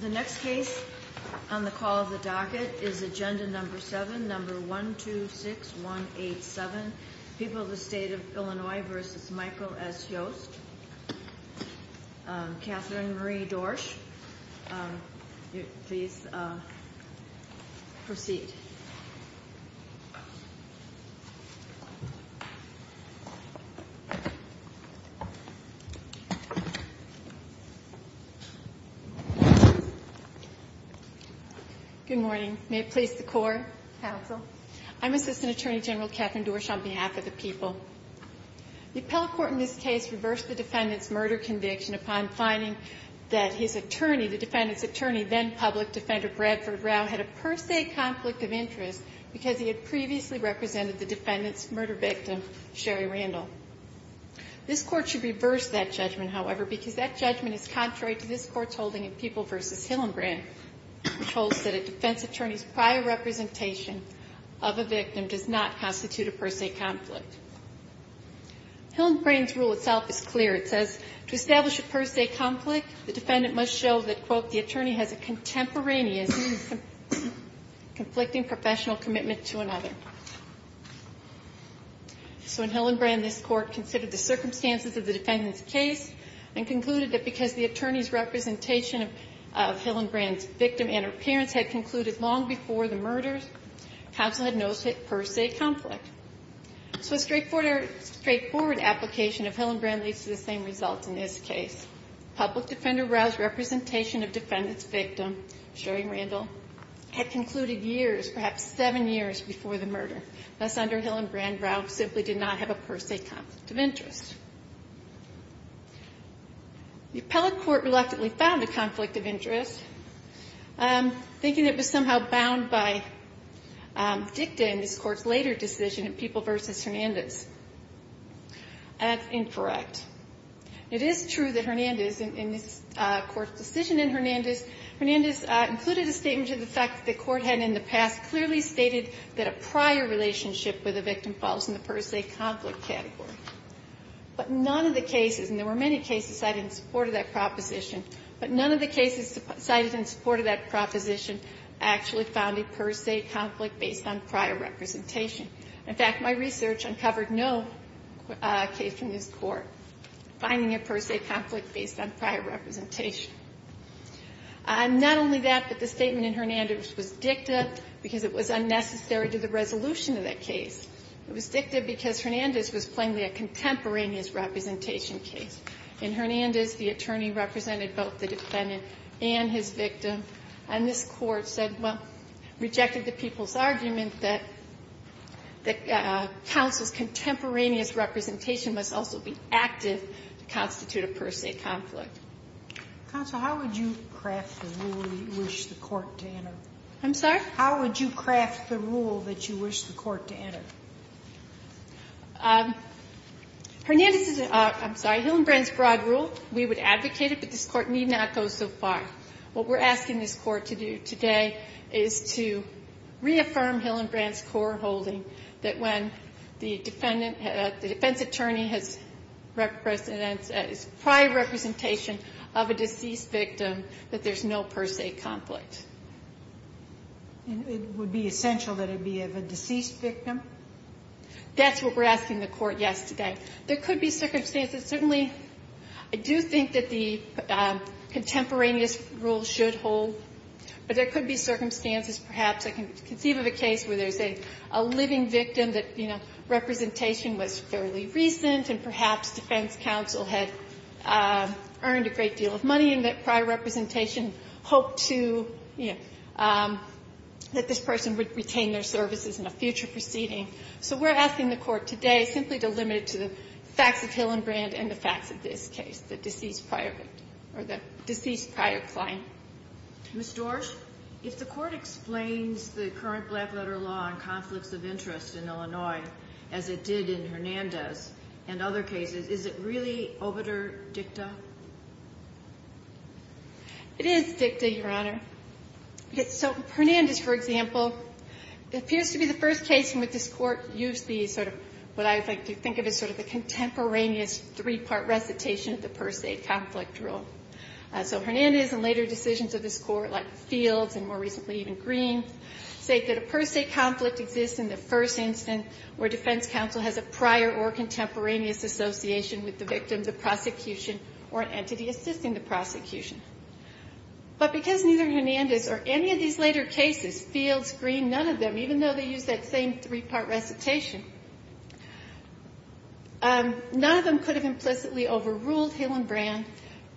The next case on the call of the docket is agenda number 7, number 126187. People of the State of Illinois v. Michael S. Yost. Catherine Marie Dorsch, please proceed. Good morning. May it please the Court. Counsel. I'm Assistant Attorney General Catherine Dorsch on behalf of the people. The appellate court in this case reversed the defendant's murder conviction upon finding that his attorney, the defendant's attorney, then-public defender Bradford Rau, had a per se conflict of interest because he had previously represented the defendant's murder victim, Sherry Randall. This Court should reverse that judgment, however, because that judgment is contrary to this Court's holding in People v. Hillenbrand, which holds that a defense attorney's prior representation of a victim does not constitute a per se conflict. Hillenbrand's rule itself is clear. It says to establish a per se conflict, the defendant must show that, quote, the attorney has a contemporaneous conflicting professional commitment to another. So in Hillenbrand, this Court considered the circumstances of the defendant's case and concluded that because the attorney's representation of Hillenbrand's victim and her parents had concluded long before the murder, counsel had no per se conflict. So a straightforward application of Hillenbrand leads to the same results in this case. Public defender Rau's representation of defendant's victim, Sherry Randall, had concluded years, perhaps seven years, before the murder. Thus, under Hillenbrand, Rau simply did not have a per se conflict of interest. The appellate court reluctantly found a conflict of interest, thinking it was somehow bound by dicta in this Court's later decision in People v. Hernandez. That's incorrect. It is true that Hernandez, in this Court's decision in Hernandez, Hernandez included a statement to the fact that the Court had in the past clearly stated that a prior relationship with a victim falls in the per se conflict category. But none of the cases, and there were many cases cited in support of that proposition, but none of the cases cited in support of that proposition actually found a per se conflict based on prior representation. In fact, my research uncovered no case in this Court finding a per se conflict based on prior representation. Not only that, but the statement in Hernandez was dicta because it was unnecessary to the resolution of that case. It was dicta because Hernandez was plainly a contemporaneous representation case. In Hernandez, the attorney represented both the defendant and his victim. And this Court said, well, rejected the people's argument that counsel's contemporaneous representation must also be active to constitute a per se conflict. Sotomayor, how would you craft the rule that you wish the Court to enter? I'm sorry? Hernandez' broad rule, we would advocate it, but this Court need not go so far. What we're asking this Court to do today is to reaffirm Hillenbrand's core holding that when the defendant, the defense attorney has prior representation of a deceased victim, that there's no per se conflict. And it would be essential that it be of a deceased victim? That's what we're asking the Court yesterday. There could be circumstances. Certainly, I do think that the contemporaneous rule should hold. But there could be circumstances, perhaps. I can conceive of a case where there's a living victim that, you know, representation was fairly recent, and perhaps defense counsel had earned a great deal of money and that prior representation hoped to, you know, that this person would retain their services in a future proceeding. So we're asking the Court today simply to limit it to the facts of Hillenbrand and the facts of this case, the deceased prior victim or the deceased prior client. Ms. Dorsh, if the Court explains the current black-letter law on conflicts of interest in Illinois as it did in Hernandez and other cases, is it really obiter dicta? It is dicta, Your Honor. So Hernandez, for example, appears to be the first case in which this Court used the sort of what I like to think of as sort of the contemporaneous three-part recitation of the per se conflict rule. So Hernandez and later decisions of this Court, like Fields and more recently even Green, state that a per se conflict exists in the first instance where defense counsel has a prior or contemporaneous association with the victim, the prosecution, or an entity assisting the prosecution. But because neither Hernandez or any of these later cases, Fields, Green, none of them, even though they use that same three-part recitation, none of them could have implicitly overruled Hillenbrand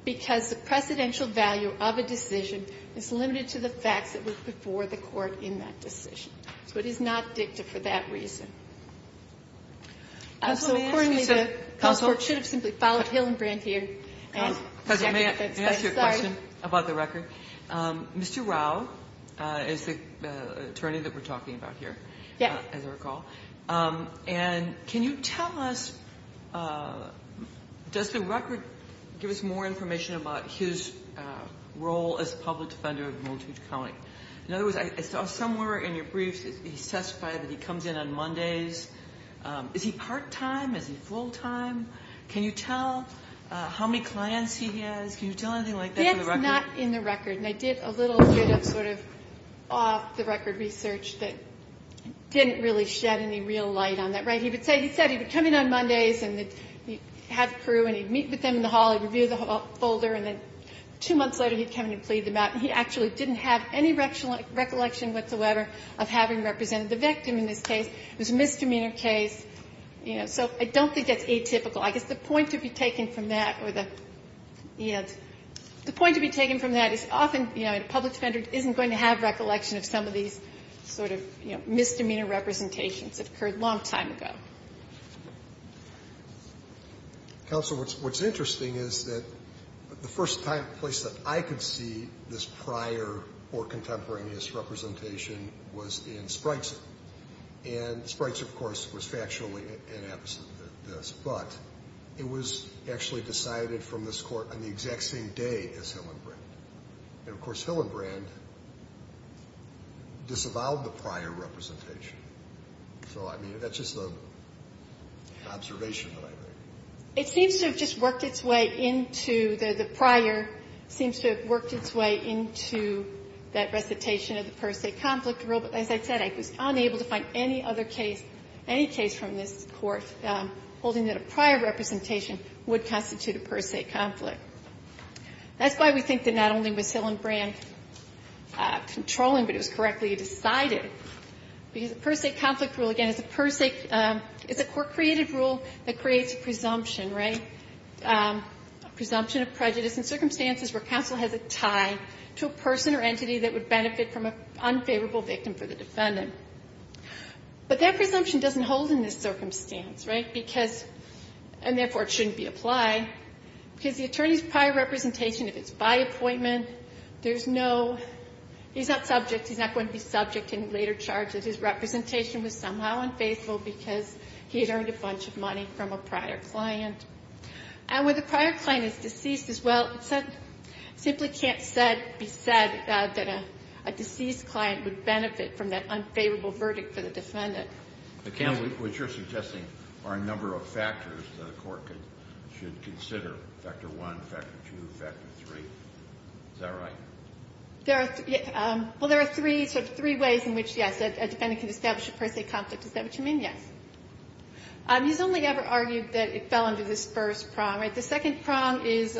because the precedential value of a decision is limited to the facts that were before the Court in that decision. So it is not dicta for that reason. So accordingly, the counsel should have simply followed Hillenbrand here. Counsel, may I ask you a question about the record? Mr. Rao is the attorney that we're talking about here, as I recall. Yes. And can you tell us, does the record give us more information about his role as a public defender of Moultrie County? In other words, I saw somewhere in your briefs that he testified that he comes in on Mondays. Is he part-time? Is he full-time? Can you tell how many clients he has? Can you tell anything like that from the record? It's not in the record, and I did a little bit of sort of off-the-record research that didn't really shed any real light on that. He said he would come in on Mondays and he'd have a crew and he'd meet with them in the hall and review the folder, and then two months later he'd come in and plead them out, and he actually didn't have any recollection whatsoever of having represented the victim in this case. It was a misdemeanor case. You know, so I don't think that's atypical. I guess the point to be taken from that or the, you know, the point to be taken from that is often, you know, a public defender isn't going to have recollection of some of these sort of, you know, misdemeanor representations that occurred a long time ago. Counsel, what's interesting is that the first place that I could see this prior or contemporaneous representation was in Spreitzer. And Spreitzer, of course, was factually inept at this, but it was actually decided from this Court on the exact same day as Hillenbrand. And, of course, Hillenbrand disavowed the prior representation. So, I mean, that's just an observation, I think. It seems to have just worked its way into the prior, seems to have worked its way into that recitation of the per se conflict rule, but as I said, I was unable to find any other case, any case from this Court holding that a prior representation would constitute a per se conflict. That's why we think that not only was Hillenbrand controlling, but it was correctly decided, because the per se conflict rule, again, is a per se, is a Court-created rule that creates a presumption, right, a presumption of prejudice in circumstances where counsel has a tie to a person or entity that would benefit from an unfavorable victim for the defendant. But that presumption doesn't hold in this circumstance, right, because, and therefore it shouldn't be applied, because the attorney's prior representation, if it's by appointment, there's no, he's not subject, he's not going to be subject in later charges. His representation was somehow unfaithful because he had earned a bunch of money from a prior client. And when the prior client is deceased as well, it simply can't be said that a deceased client would benefit from that unfavorable verdict for the defendant. The counsel, which you're suggesting, are a number of factors that a court should consider. Factor one, factor two, factor three. Is that right? There are, well, there are three, sort of three ways in which, yes, a defendant can establish a per se conflict. Is that what you mean? Yes. He's only ever argued that it fell under this first prong, right? The second prong is,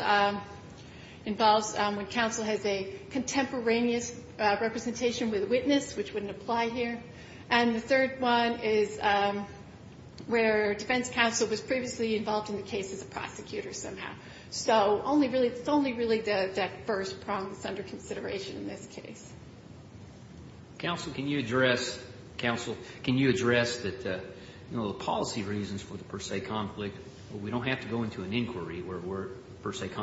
involves when counsel has a contemporaneous representation with a witness, which wouldn't apply here. And the third one is where defense counsel was previously involved in the case as a prosecutor somehow. So only really, it's only really that first prong that's under consideration in this case. Counsel, can you address, counsel, can you address that, you know, the policy reasons for the per se conflict, we don't have to go into an inquiry where per se It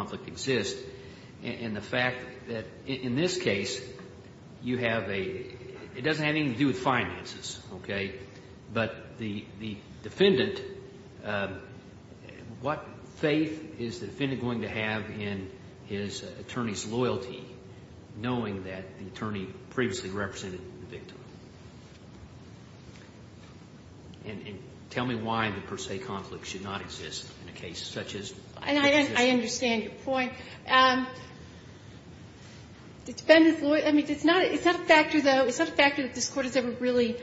doesn't have anything to do with finances, okay? But the defendant, what faith is the defendant going to have in his attorney's loyalty, knowing that the attorney previously represented the victim? And tell me why the per se conflict should not exist in a case such as this. And I understand your point. The defendant's loyalty, I mean, it's not a factor that this Court has ever really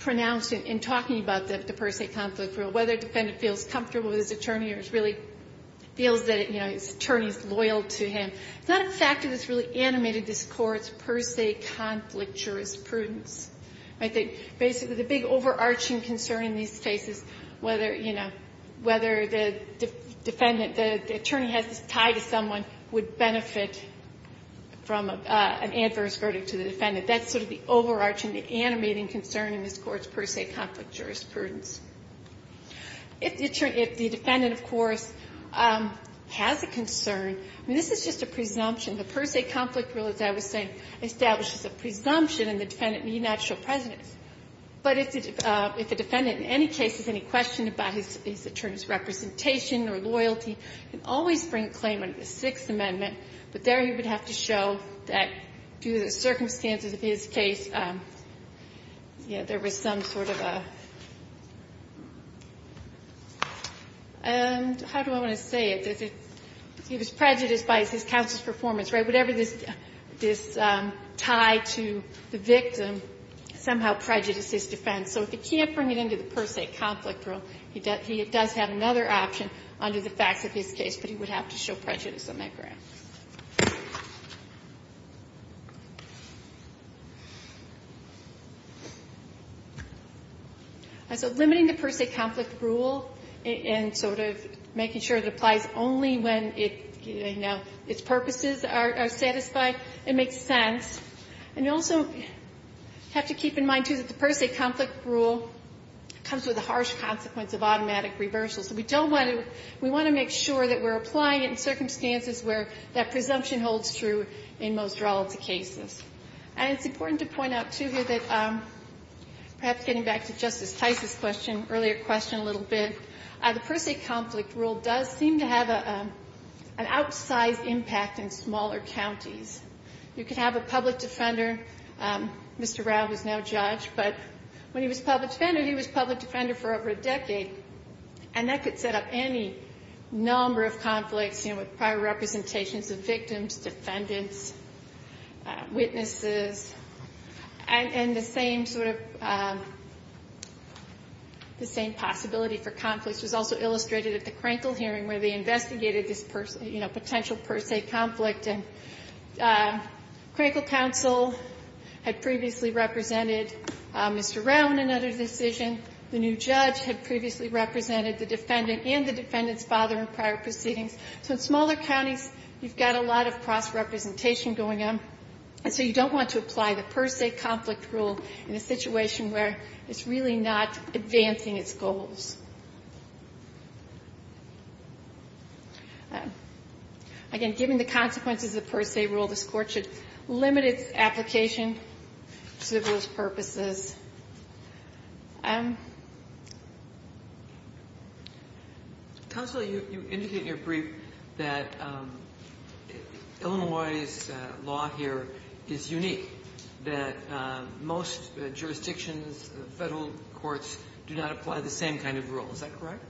pronounced in talking about the per se conflict rule, whether a defendant feels comfortable with his attorney or really feels that, you know, his attorney is loyal to him. It's not a factor that's really animated this Court's per se conflict jurisprudence. I think basically the big overarching concern in these cases, whether, you know, whether the defendant, the attorney has this tie to someone who would benefit from an adverse verdict to the defendant, that's sort of the overarching, the animating concern in this Court's per se conflict jurisprudence. If the attorney, if the defendant, of course, has a concern, I mean, this is just a presumption. The per se conflict rule, as I was saying, establishes a presumption, and the defendant need not show precedence. But if the defendant in any case has any question about his attorney's representation or loyalty, he can always bring a claim under the Sixth Amendment, but there he would have to show that due to the circumstances of his case, you know, there was some sort of a – how do I want to say it? He was prejudiced by his counsel's performance, right? Whatever this tie to the victim somehow prejudices defense. So if he can't bring it under the per se conflict rule, he does have another option under the facts of his case, but he would have to show prejudice on that ground. So limiting the per se conflict rule and sort of making sure it applies only when its purposes are satisfied, it makes sense. And you also have to keep in mind, too, that the per se conflict rule comes with a harsh consequence of automatic reversal. So we don't want to – we want to make sure that we're applying it in circumstances where that presumption holds true in most relative cases. And it's important to point out, too, here, that perhaps getting back to Justice Tice's question, earlier question a little bit, the per se conflict rule does seem to have an outsized impact in smaller counties. You can have a public defender. Mr. Rao was now judge, but when he was public defender, he was public defender for over a decade, and that could set up any number of conflicts, you know, with prior representations of victims, defendants, witnesses. And the same sort of – the same possibility for conflicts was also illustrated at the Crankle hearing where they investigated this, you know, potential per se conflict. And Crankle counsel had previously represented Mr. Rao in another decision. The new judge had previously represented the defendant and the defendant's father in prior proceedings. So in smaller counties, you've got a lot of cross-representation going on, and so you don't want to apply the per se conflict rule in a situation where it's really not advancing its goals. Again, given the consequences of the per se rule, this Court should limit its application to those purposes. Counsel, you indicated in your brief that Illinois' law here is unique, that most jurisdictions, Federal courts, do not apply the same kind of rule. Is that correct?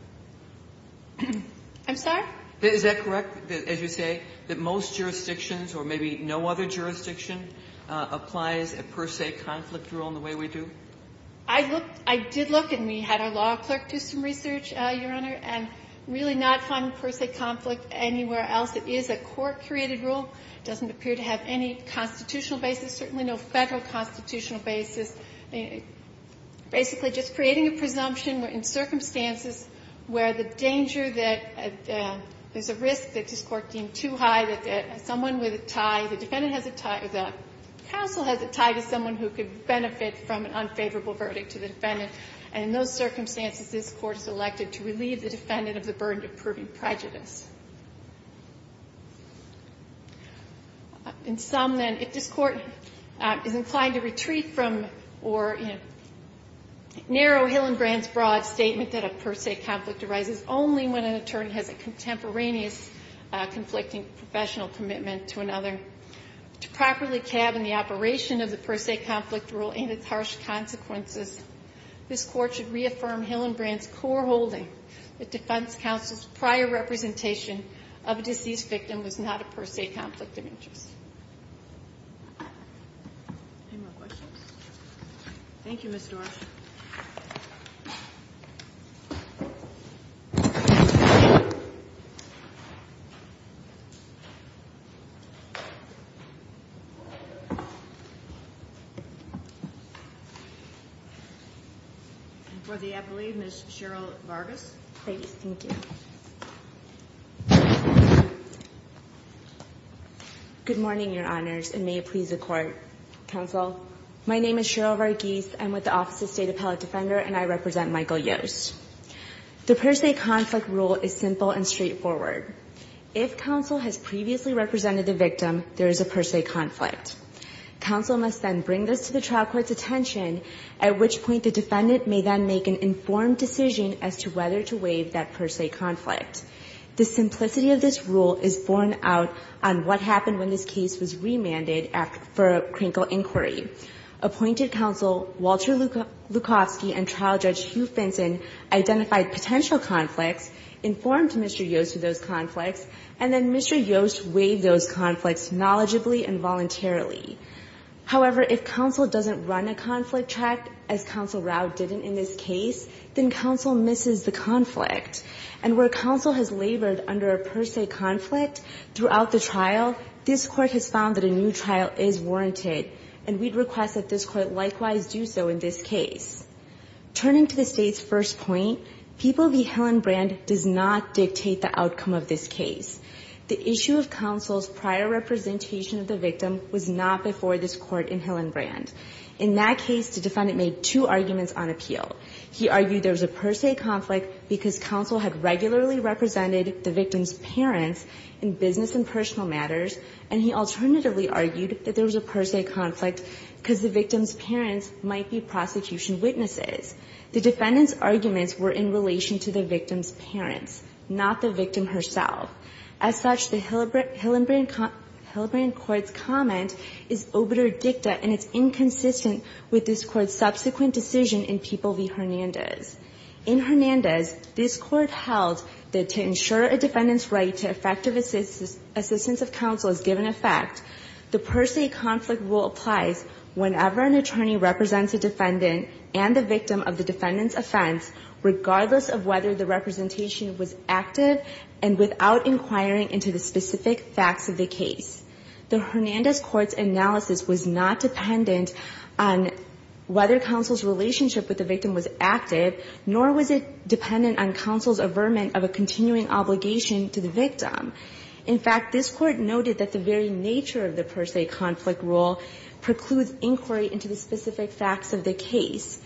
I'm sorry? Is that correct, as you say, that most jurisdictions or maybe no other jurisdiction applies a per se conflict rule in the way we do? I looked – I did look, and we had our law clerk do some research, Your Honor, and really not find per se conflict anywhere else. It is a court-curated rule. It doesn't appear to have any constitutional basis, certainly no Federal constitutional basis. Basically, just creating a presumption in circumstances where the danger that there's a risk that this Court deemed too high, that someone with a tie, the defendant has a tie, the counsel has a tie to someone who could benefit from an unfavorable verdict to the defendant, and in those circumstances, this Court is elected to relieve the defendant of the burden of proving prejudice. In sum, then, if this Court is inclined to retreat from or narrow Hillenbrand's broad statement that a per se conflict arises only when an attorney has a contemporaneous conflicting professional commitment to another, to properly cabin the operation of the per se conflict rule and its harsh consequences, this Court should reaffirm Hillenbrand's core holding that defense counsel's prior representation of a deceased victim was not a per se conflict of interest. Any more questions? Thank you, Ms. Dorff. For the appellee, Ms. Cheryl Vargas. Thank you. Good morning, Your Honors, and may it please the Court. Counsel, my name is Cheryl Vargas. I'm with the Office of State Appellate Defender, and I represent Michael Yost. The per se conflict rule is simple and straightforward. If counsel has previously represented the victim, there is a per se conflict. Counsel must then bring this to the trial court's attention, at which point the defendant may then make an informed decision as to whether to waive that per se conflict. The simplicity of this rule is borne out on what happened when this case was remanded to the State Act for a crinkle inquiry. Appointed counsel Walter Lukowski and trial judge Hugh Finson identified potential conflicts, informed Mr. Yost of those conflicts, and then Mr. Yost waived those conflicts knowledgeably and voluntarily. However, if counsel doesn't run a conflict track, as Counsel Rao didn't in this case, then counsel misses the conflict. And where counsel has labored under a per se conflict throughout the trial, this new trial is warranted, and we'd request that this Court likewise do so in this case. Turning to the State's first point, People v. Hillenbrand does not dictate the outcome of this case. The issue of counsel's prior representation of the victim was not before this Court in Hillenbrand. In that case, the defendant made two arguments on appeal. He argued there was a per se conflict because counsel had regularly represented the victim's parents in business and personal matters, and he alternatively argued that there was a per se conflict because the victim's parents might be prosecution witnesses. The defendant's arguments were in relation to the victim's parents, not the victim herself. As such, the Hillenbrand Court's comment is obitur dicta, and it's inconsistent with this Court's subsequent decision in People v. Hernandez. In Hernandez, this Court held that to ensure a defendant's right to effective assistance of counsel is given effect, the per se conflict rule applies whenever an attorney represents a defendant and the victim of the defendant's offense, regardless of whether the representation was active and without inquiring into the specific facts of the case. The Hernandez Court's analysis was not dependent on whether counsel's relationship with the victim was active, nor was it dependent on counsel's averment of a continuing obligation to the victim. In fact, this Court noted that the very nature of the per se conflict rule precludes inquiry into the specific facts of the case.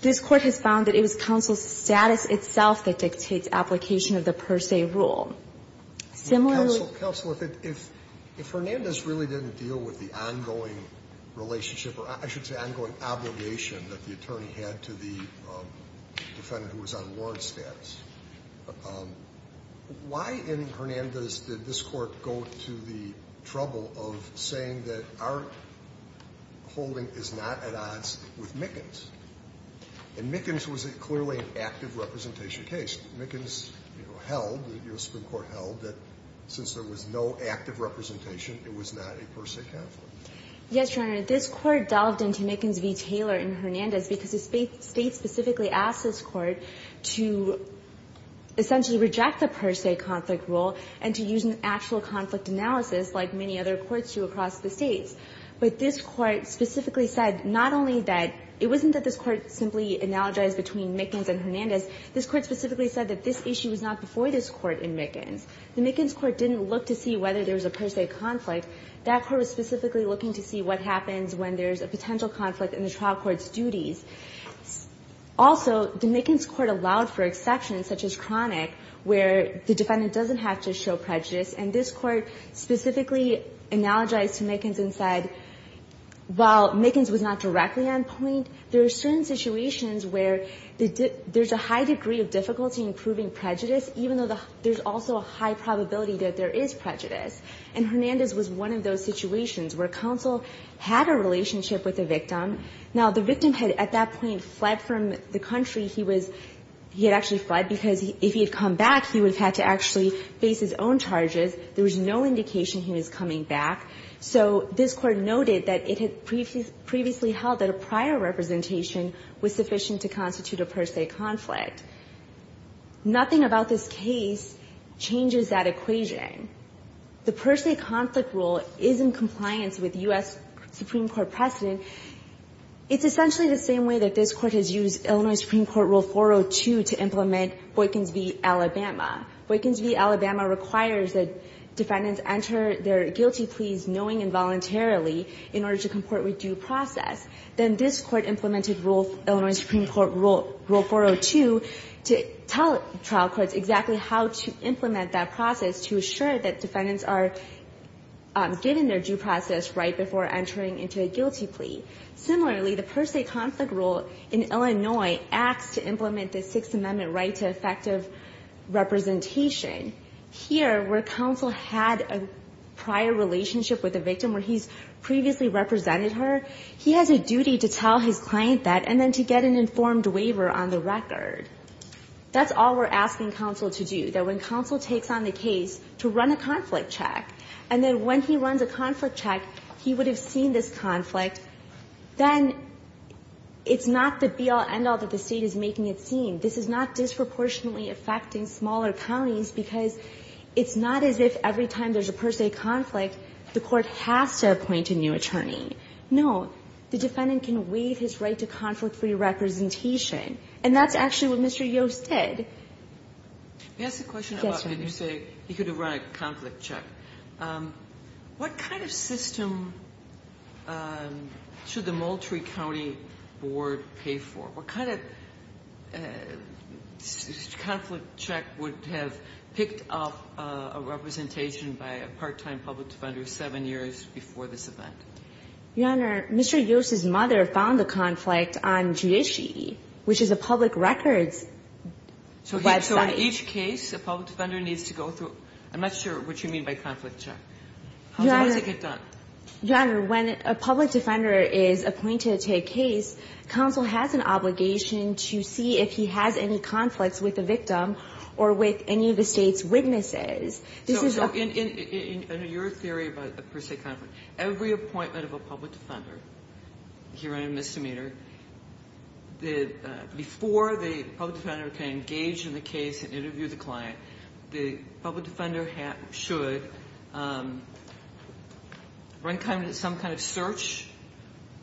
This Court has found that it was counsel's status itself that dictates application of the per se rule. Similarly to the Hillenbrand Court's analysis, the per se conflict rule does not apply defendant who was on warrants status. Why in Hernandez did this Court go to the trouble of saying that our holding is not at odds with Mickens? And Mickens was clearly an active representation case. Mickens held, the U.S. Supreme Court held, that since there was no active representation, it was not a per se conflict. Yes, Your Honor. This Court delved into Mickens v. Taylor in Hernandez because the State specifically asked this Court to essentially reject the per se conflict rule and to use an actual conflict analysis like many other courts do across the States. But this Court specifically said not only that it wasn't that this Court simply analogized between Mickens and Hernandez. This Court specifically said that this issue was not before this Court in Mickens. The Mickens Court didn't look to see whether there was a per se conflict. That Court was specifically looking to see what happens when there's a potential conflict in the trial court's duties. Also, the Mickens Court allowed for exceptions, such as chronic, where the defendant doesn't have to show prejudice. And this Court specifically analogized to Mickens and said, while Mickens was not directly on point, there are certain situations where there's a high degree of difficulty in proving prejudice, even though there's also a high probability that there is prejudice. And Hernandez was one of those situations where counsel had a relationship with the victim. Now, the victim had at that point fled from the country. He was he had actually fled because if he had come back, he would have had to actually face his own charges. There was no indication he was coming back. So this Court noted that it had previously held that a prior representation was sufficient to constitute a per se conflict. Nothing about this case changes that equation. The per se conflict rule is in compliance with U.S. Supreme Court precedent. It's essentially the same way that this Court has used Illinois Supreme Court Rule 402 to implement Boykins v. Alabama. Boykins v. Alabama requires that defendants enter their guilty pleas knowing involuntarily in order to comport with due process. Then this Court implemented Illinois Supreme Court Rule 402 to tell trial courts exactly how to implement that process to assure that defendants are given their due process right before entering into a guilty plea. Similarly, the per se conflict rule in Illinois acts to implement the Sixth Amendment right to effective representation. Here, where counsel had a prior relationship with the victim where he's previously represented her, he has a duty to tell his client that and then to get an informed waiver on the record. That's all we're asking counsel to do, that when counsel takes on the case to run a conflict check, and then when he runs a conflict check, he would have seen this conflict, then it's not the be-all, end-all that the State is making it seem. This is not disproportionately affecting smaller counties because it's not as if every time there's a per se conflict, the Court has to appoint a new attorney. No. The defendant can waive his right to conflict-free representation. And that's actually what Mr. Yost did. Ginsburg. May I ask a question about when you say he could have run a conflict check? What kind of system should the Moultrie County Board pay for? What kind of conflict check would have picked up a representation by a part-time public defender seven years before this event? Your Honor, Mr. Yost's mother found the conflict on Judici, which is a public records website. So in each case, a public defender needs to go through? I'm not sure what you mean by conflict check. Your Honor. How does it get done? Your Honor, when a public defender is appointed to a case, counsel has an obligation to see if he has any conflicts with the victim or with any of the State's witnesses. So in your theory about a per se conflict, every appointment of a public defender here in a misdemeanor, before the public defender can engage in the case and interview the client, the public defender should run some kind of search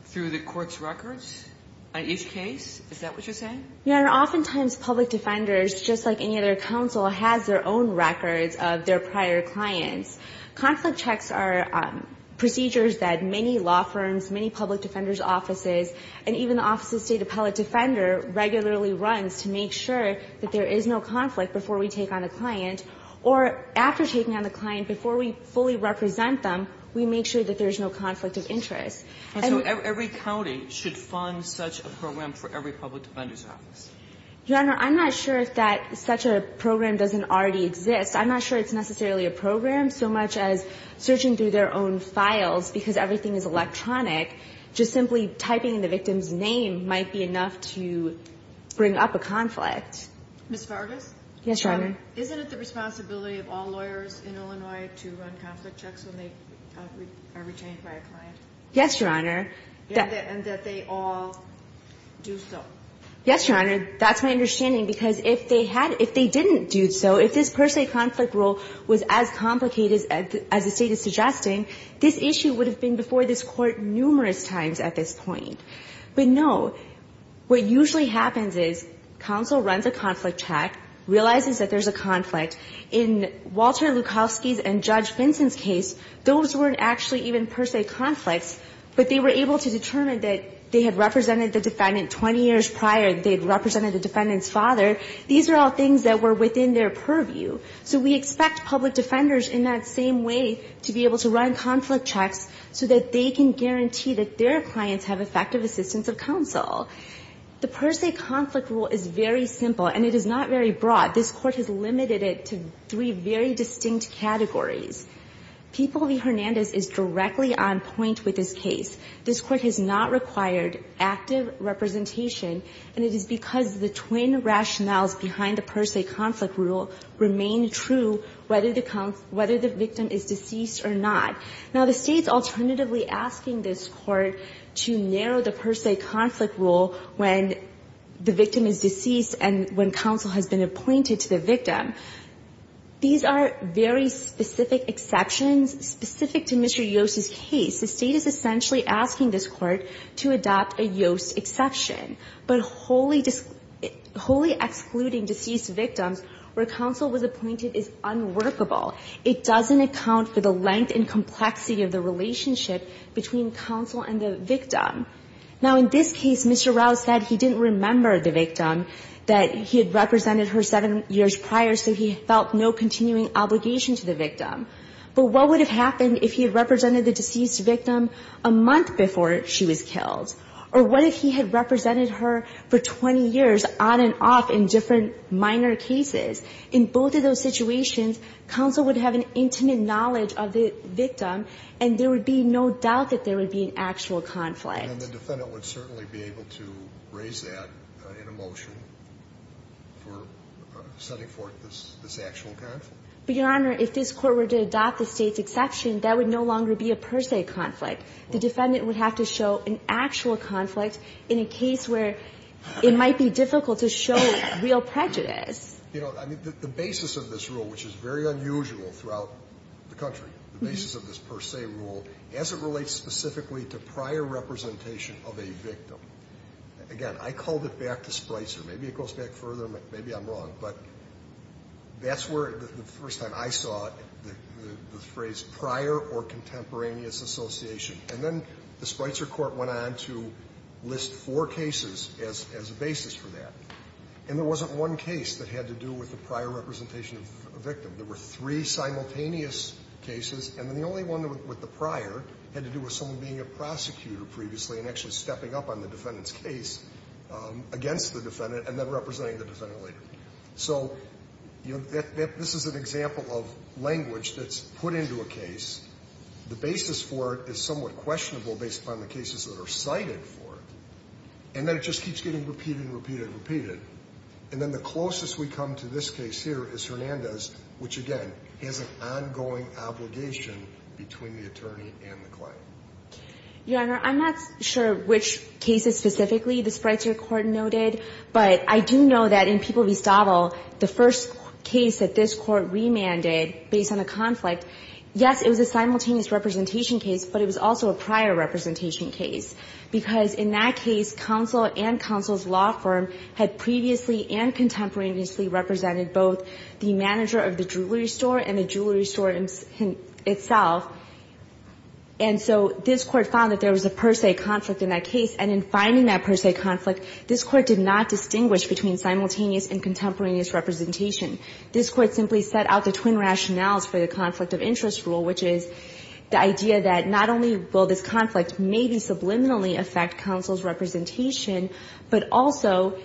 through the Court's records on each case? Is that what you're saying? Your Honor, oftentimes public defenders, just like any other counsel, has their own records of their prior clients. Conflict checks are procedures that many law firms, many public defenders' offices, and even the Office of the State Appellate Defender regularly runs to make sure that there is no conflict before we take on a client, or after taking on a client, before we fully represent them, we make sure that there is no conflict of interest. And so every county should fund such a program for every public defender's office. Your Honor, I'm not sure that such a program doesn't already exist. I'm not sure it's necessarily a program, so much as searching through their own files, because everything is electronic, just simply typing in the victim's name might be enough to bring up a conflict. Ms. Vargas? Yes, Your Honor. Isn't it the responsibility of all lawyers in Illinois to run conflict checks when they are retained by a client? Yes, Your Honor. And that they all do so. Yes, Your Honor. That's my understanding, because if they didn't do so, if this per se conflict rule was as complicated as the State is suggesting, this issue would have been before this Court numerous times at this point. But no. What usually happens is counsel runs a conflict check, realizes that there's a conflict. In Walter Lukowski's and Judge Vinson's case, those weren't actually even per se conflicts, but they were able to determine that they had represented the defendant 20 years prior, they had represented the defendant's father. These are all things that were within their purview. So we expect public defenders in that same way to be able to run conflict checks so that they can guarantee that their clients have effective assistance of counsel. The per se conflict rule is very simple, and it is not very broad. This Court has limited it to three very distinct categories. People v. Hernandez is directly on point with this case. This Court has not required active representation, and it is because the twin rationales behind the per se conflict rule remain true whether the victim is deceased or not. Now, the State's alternatively asking this Court to narrow the per se conflict rule when the victim is deceased and when counsel has been appointed to the victim. These are very specific exceptions specific to Mr. Yost's case. The State is essentially asking this Court to adopt a Yost exception. But wholly excluding deceased victims where counsel was appointed is unworkable. It doesn't account for the length and complexity of the relationship between counsel and the victim. Now, in this case, Mr. Rouse said he didn't remember the victim, that he had represented her seven years prior, so he felt no continuing obligation to the victim. But what would have happened if he had represented the deceased victim a month before she was killed? Or what if he had represented her for 20 years on and off in different minor cases? In both of those situations, counsel would have an intimate knowledge of the victim, and there would be no doubt that there would be an actual conflict. And the defendant would certainly be able to raise that in a motion for setting forth this actual conflict? Your Honor, if this Court were to adopt the State's exception, that would no longer be a per se conflict. The defendant would have to show an actual conflict in a case where it might be difficult to show real prejudice. You know, the basis of this rule, which is very unusual throughout the country, the basis of this per se rule, as it relates specifically to prior representation of a victim, again, I called it back to Spicer. Maybe it goes back further. Maybe I'm wrong. But that's where the first time I saw the phrase prior or contemporaneous association. And then the Spicer Court went on to list four cases as a basis for that. And there wasn't one case that had to do with the prior representation of a victim. There were three simultaneous cases. And then the only one with the prior had to do with someone being a prosecutor previously and actually stepping up on the defendant's case against the defendant and then representing the defendant later. So, you know, this is an example of language that's put into a case. The basis for it is somewhat questionable based upon the cases that are cited for And then it just keeps getting repeated and repeated and repeated. And then the closest we come to this case here is Hernandez, which, again, has an ongoing obligation between the attorney and the client. Your Honor, I'm not sure which cases specifically the Spicer Court noted, but I do know that in People v. Stottle, the first case that this court remanded based on a conflict, yes, it was a simultaneous representation case, but it was also a prior representation case because in that case, counsel and counsel's law firm had previously and contemporaneously represented both the manager of the jewelry store and the jewelry store itself. And so this Court found that there was a per se conflict in that case, and in finding that per se conflict, this Court did not distinguish between simultaneous and contemporaneous representation. This Court simply set out the twin rationales for the conflict of interest rule, which is the idea that not only will this conflict maybe subliminally affect counsel's representation, but also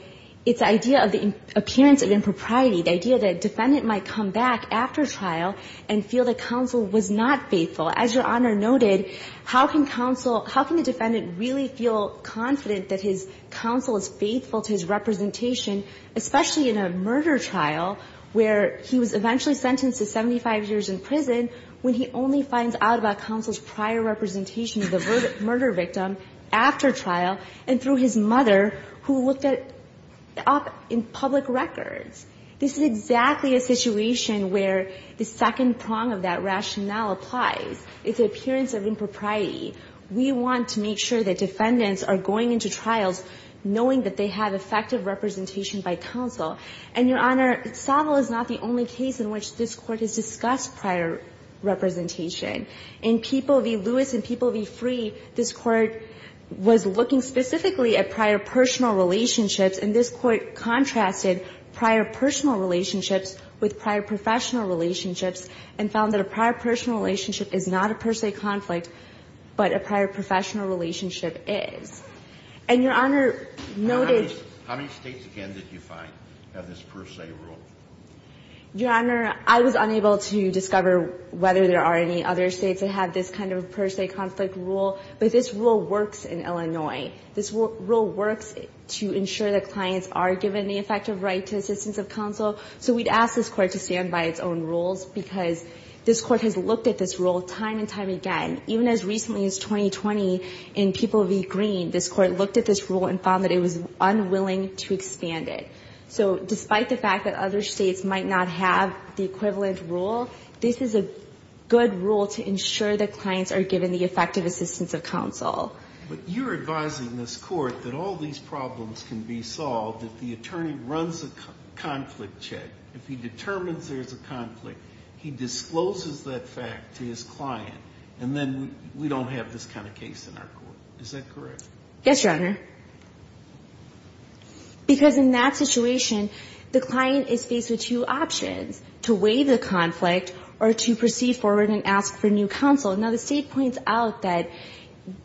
its idea of the appearance of impropriety, the idea that a defendant might come back after trial and feel that counsel was not faithful. As Your Honor noted, how can counsel – how can the defendant really feel confident that his counsel is faithful to his representation, especially in a murder trial where he was eventually sentenced to 75 years in prison when he only finds out about counsel's prior representation of the murder victim after trial and through his mother who looked at – up in public records? This is exactly a situation where the second prong of that rationale applies. It's the appearance of impropriety. We want to make sure that defendants are going into trials knowing that they have effective representation by counsel. And, Your Honor, Saville is not the only case in which this Court has discussed prior representation. In People v. Lewis and People v. Free, this Court was looking specifically at prior personal relationships. And this Court contrasted prior personal relationships with prior professional relationships and found that a prior personal relationship is not a per se conflict, but a prior professional relationship is. And Your Honor noted – How many states, again, did you find have this per se rule? Your Honor, I was unable to discover whether there are any other states that have this kind of per se conflict rule. But this rule works in Illinois. This rule works to ensure that clients are given the effective right to assistance of counsel. So we'd ask this Court to stand by its own rules because this Court has looked at this rule time and time again. Even as recently as 2020 in People v. Green, this Court looked at this rule and found that it was unwilling to expand it. So despite the fact that other states might not have the equivalent rule, this is a good rule to ensure that clients are given the effective assistance of counsel. But you're advising this Court that all these problems can be solved if the attorney runs a conflict check. If he determines there's a conflict, he discloses that fact to his client, and then we don't have this kind of case in our Court. Is that correct? Yes, Your Honor. Because in that situation, the client is faced with two options, to waive the conflict or to proceed forward and ask for new counsel. Now the state points out that,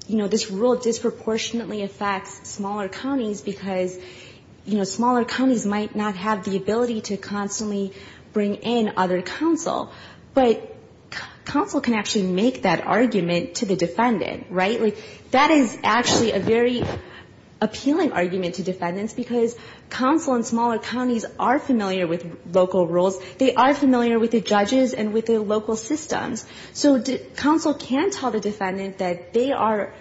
you know, this rule disproportionately affects smaller counties because, you know, smaller counties might not have the ability to constantly bring in other counsel. But counsel can actually make that argument to the defendant, right? Like, that is actually a very appealing argument to defendants because counsel in smaller counties are familiar with local rules. They are familiar with the judges and with the local systems. So counsel can tell the defendant that they are,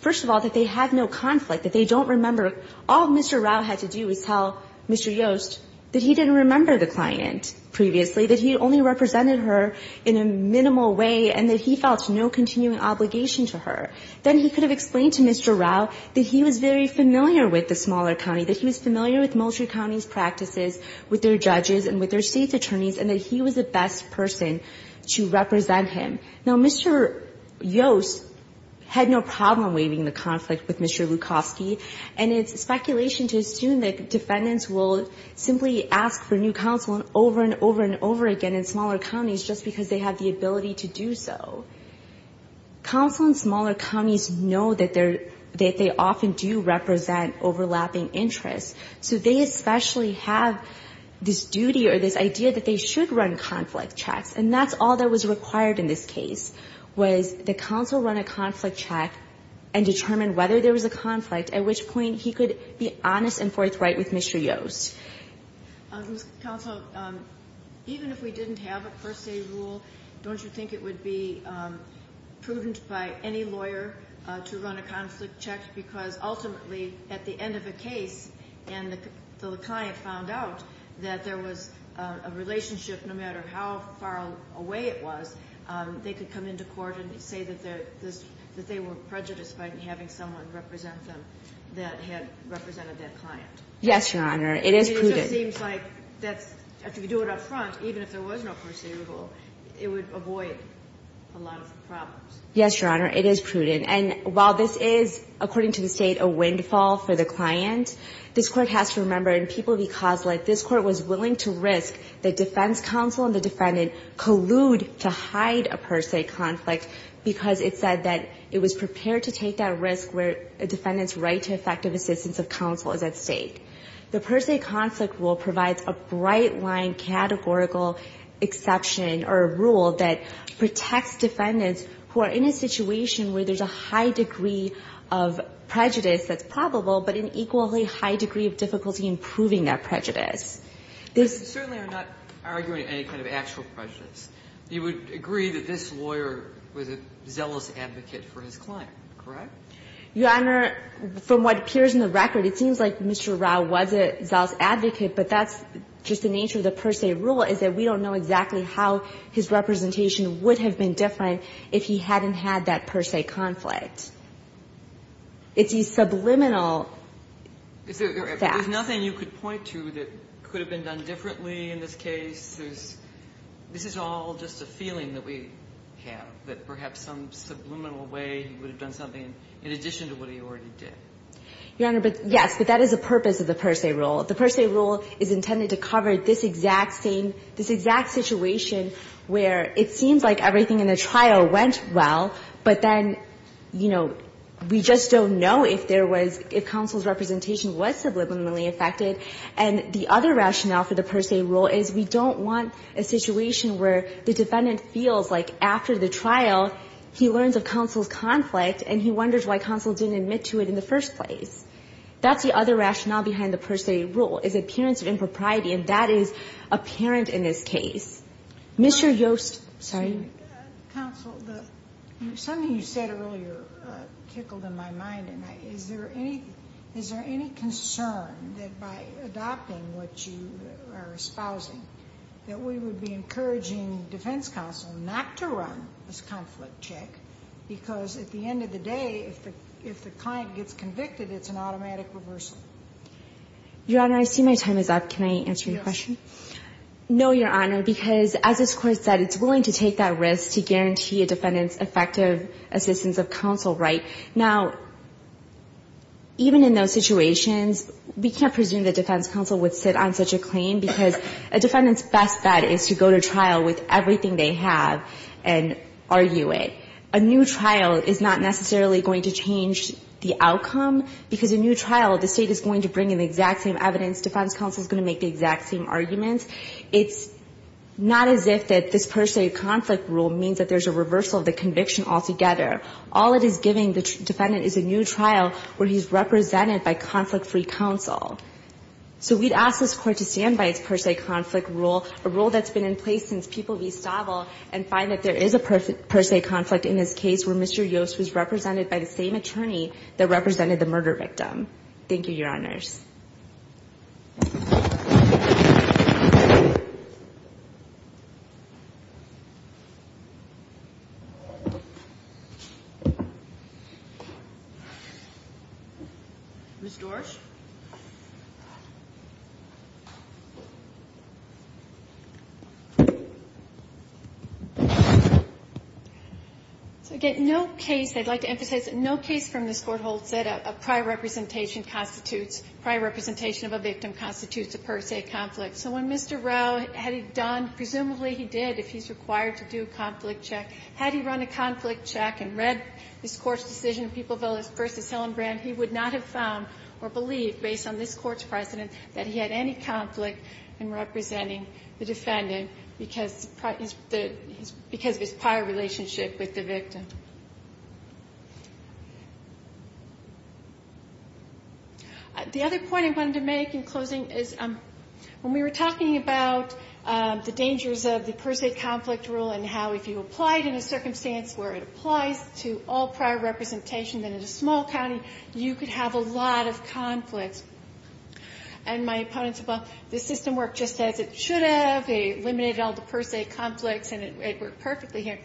first of all, that they have no conflict, that they don't remember. All Mr. Rao had to do is tell Mr. Yost that he didn't remember the client previously, that he only represented her in a minimal way, and that he felt no continuing obligation to her. Then he could have explained to Mr. Rao that he was very familiar with the smaller county, that he was familiar with Moultrie County's practices, with their judges and with their state's attorneys, and that he was the best person to represent him. Now, Mr. Yost had no problem waiving the conflict with Mr. Lukofsky, and it's speculation to assume that defendants will simply ask for new counsel over and over and over again in smaller counties just because they have the ability to do so. Counsel in smaller counties know that they often do represent overlapping interests. So they especially have this duty or this idea that they should run conflict checks, and that's all that was required in this case, was the counsel run a conflict check and determine whether there was a conflict, at which point he could be honest and forthright with Mr. Yost. Counsel, even if we didn't have a first aid rule, don't you think it would be prudent by any lawyer to run a conflict check because ultimately at the end of a case and the client found out that there was a relationship no matter how far away it was, they could come into court and say that they were prejudiced by having someone represent them that had represented that client? Yes, Your Honor. It is prudent. It just seems like if you do it up front, even if there was no first aid rule, it would avoid a lot of problems. Yes, Your Honor. It is prudent. And while this is, according to the State, a windfall for the client, this Court has to remember in People v. Coslett, this Court was willing to risk that defense counsel and the defendant collude to hide a first aid conflict because it said that it was prepared to take that risk where a defendant's right to effective assistance of counsel is at stake. The first aid conflict rule provides a bright line categorical exception or rule that protects defendants who are in a situation where there's a high degree of prejudice that's probable, but an equally high degree of difficulty in proving that prejudice. You certainly are not arguing any kind of actual prejudice. You would agree that this lawyer was a zealous advocate for his client. Correct? Your Honor, from what appears in the record, it seems like Mr. Rao was a zealous advocate, but that's just the nature of the first aid rule, is that we don't know exactly how his representation would have been different if he hadn't had that first aid conflict. It's a subliminal fact. There's nothing you could point to that could have been done differently in this case? There's this is all just a feeling that we have, that perhaps some subliminal way he would have done something in addition to what he already did. Your Honor, yes, but that is the purpose of the first aid rule. The first aid rule is intended to cover this exact same, this exact situation where it seems like everything in the trial went well, but then, you know, we just don't know if there was, if counsel's representation was subliminally affected. And the other rationale for the first aid rule is we don't want a situation where the defendant feels like after the trial he learns of counsel's conflict and he wonders why counsel didn't admit to it in the first place. That's the other rationale behind the first aid rule, is appearance of impropriety, and that is apparent in this case. Mr. Yost, sorry. Counsel, something you said earlier tickled in my mind, and I, is there any, is there any concern that by adopting what you are espousing, that we would be encouraging defense counsel not to run this conflict check, because at the end of the day, if the client gets convicted, it's an automatic reversal? Your Honor, I see my time is up. Can I answer your question? Yes. No, Your Honor, because as this Court said, it's willing to take that risk to guarantee a defendant's effective assistance of counsel, right? Now, even in those situations, we can't presume that defense counsel would sit on such a claim, because a defendant's best bet is to go to trial with everything they have and argue it. A new trial is not necessarily going to change the outcome, because a new trial, the State is going to bring in the exact same evidence, defense counsel is going to make the exact same arguments. It's not as if that this first aid conflict rule means that there's a reversal of the conviction altogether. All it is giving the defendant is a new trial where he's represented by conflict-free counsel. So we'd ask this Court to stand by its first aid conflict rule, a rule that's been in place since People v. Stavel, and find that there is a first aid conflict in this case where Mr. Yost was represented by the same attorney that represented the murder victim. Thank you, Your Honors. Ms. Dorsch? So, again, no case, I'd like to emphasize, no case from this Court holds that a prior representation constitutes, prior representation of a victim constitutes a first aid conflict. So when Mr. Rowe had done, presumably he did, if he's required to do a conflict check, had he run a conflict check and read this Court's decision, People v. Helen Brand, he would not have found or believed, based on this Court's precedent, that he had any conflict in representing the defendant because of his prior relationship with the victim. The other point I wanted to make in closing is when we were talking about the dangers of the first aid conflict rule and how if you applied in a circumstance where it applies to all prior representation, then in a small county, you could have a lot of conflicts. And my opponents, well, the system worked just as it should have. They eliminated all the first aid conflicts, and it worked perfectly here.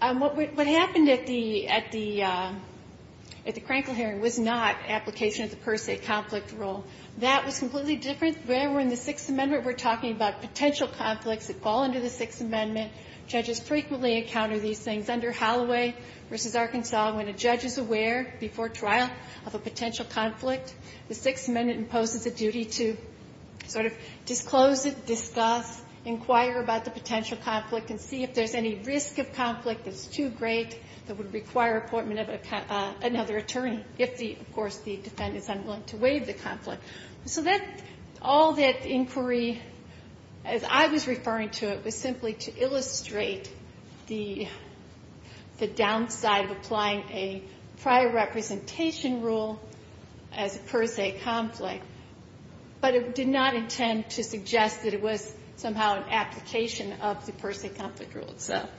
What happened at the, at the, at the Crankle hearing was not application of the first aid conflict rule. That was completely different. When we're in the Sixth Amendment, we're talking about potential conflicts that fall under the Sixth Amendment. Judges frequently encounter these things. Under Holloway v. Arkansas, when a judge is aware before trial of a potential conflict, the Sixth Amendment imposes a duty to sort of disclose it, discuss, inquire about the potential conflict, and see if there's any risk of conflict that's too great that would require appointment of another attorney if the, of course, the defendant is unwilling to waive the conflict. So that, all that inquiry, as I was referring to it, was simply to illustrate the, the downside of applying a prior representation rule as a first aid conflict. But it did not intend to suggest that it was somehow an application of the first aid conflict rule itself.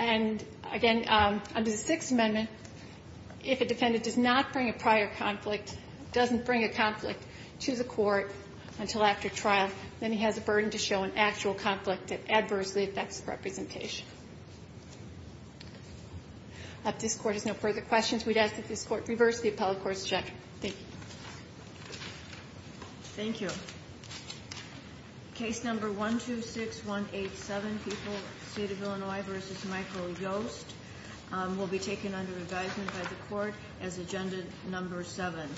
And, again, under the Sixth Amendment, if a defendant does not bring a prior conflict, doesn't bring a conflict to the court until after trial, then he has a burden to show an actual conflict that adversely affects the representation. If this Court has no further questions, we'd ask that this Court reverse the appellate court's objection. Thank you. Thank you. Case number 126187, People, State of Illinois v. Michael Yost, will be taken under advisement by the Court as Agenda Number 7.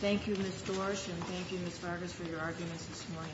Thank you, Ms. Dorsch, and thank you, Ms. Vargas, for your arguments this morning.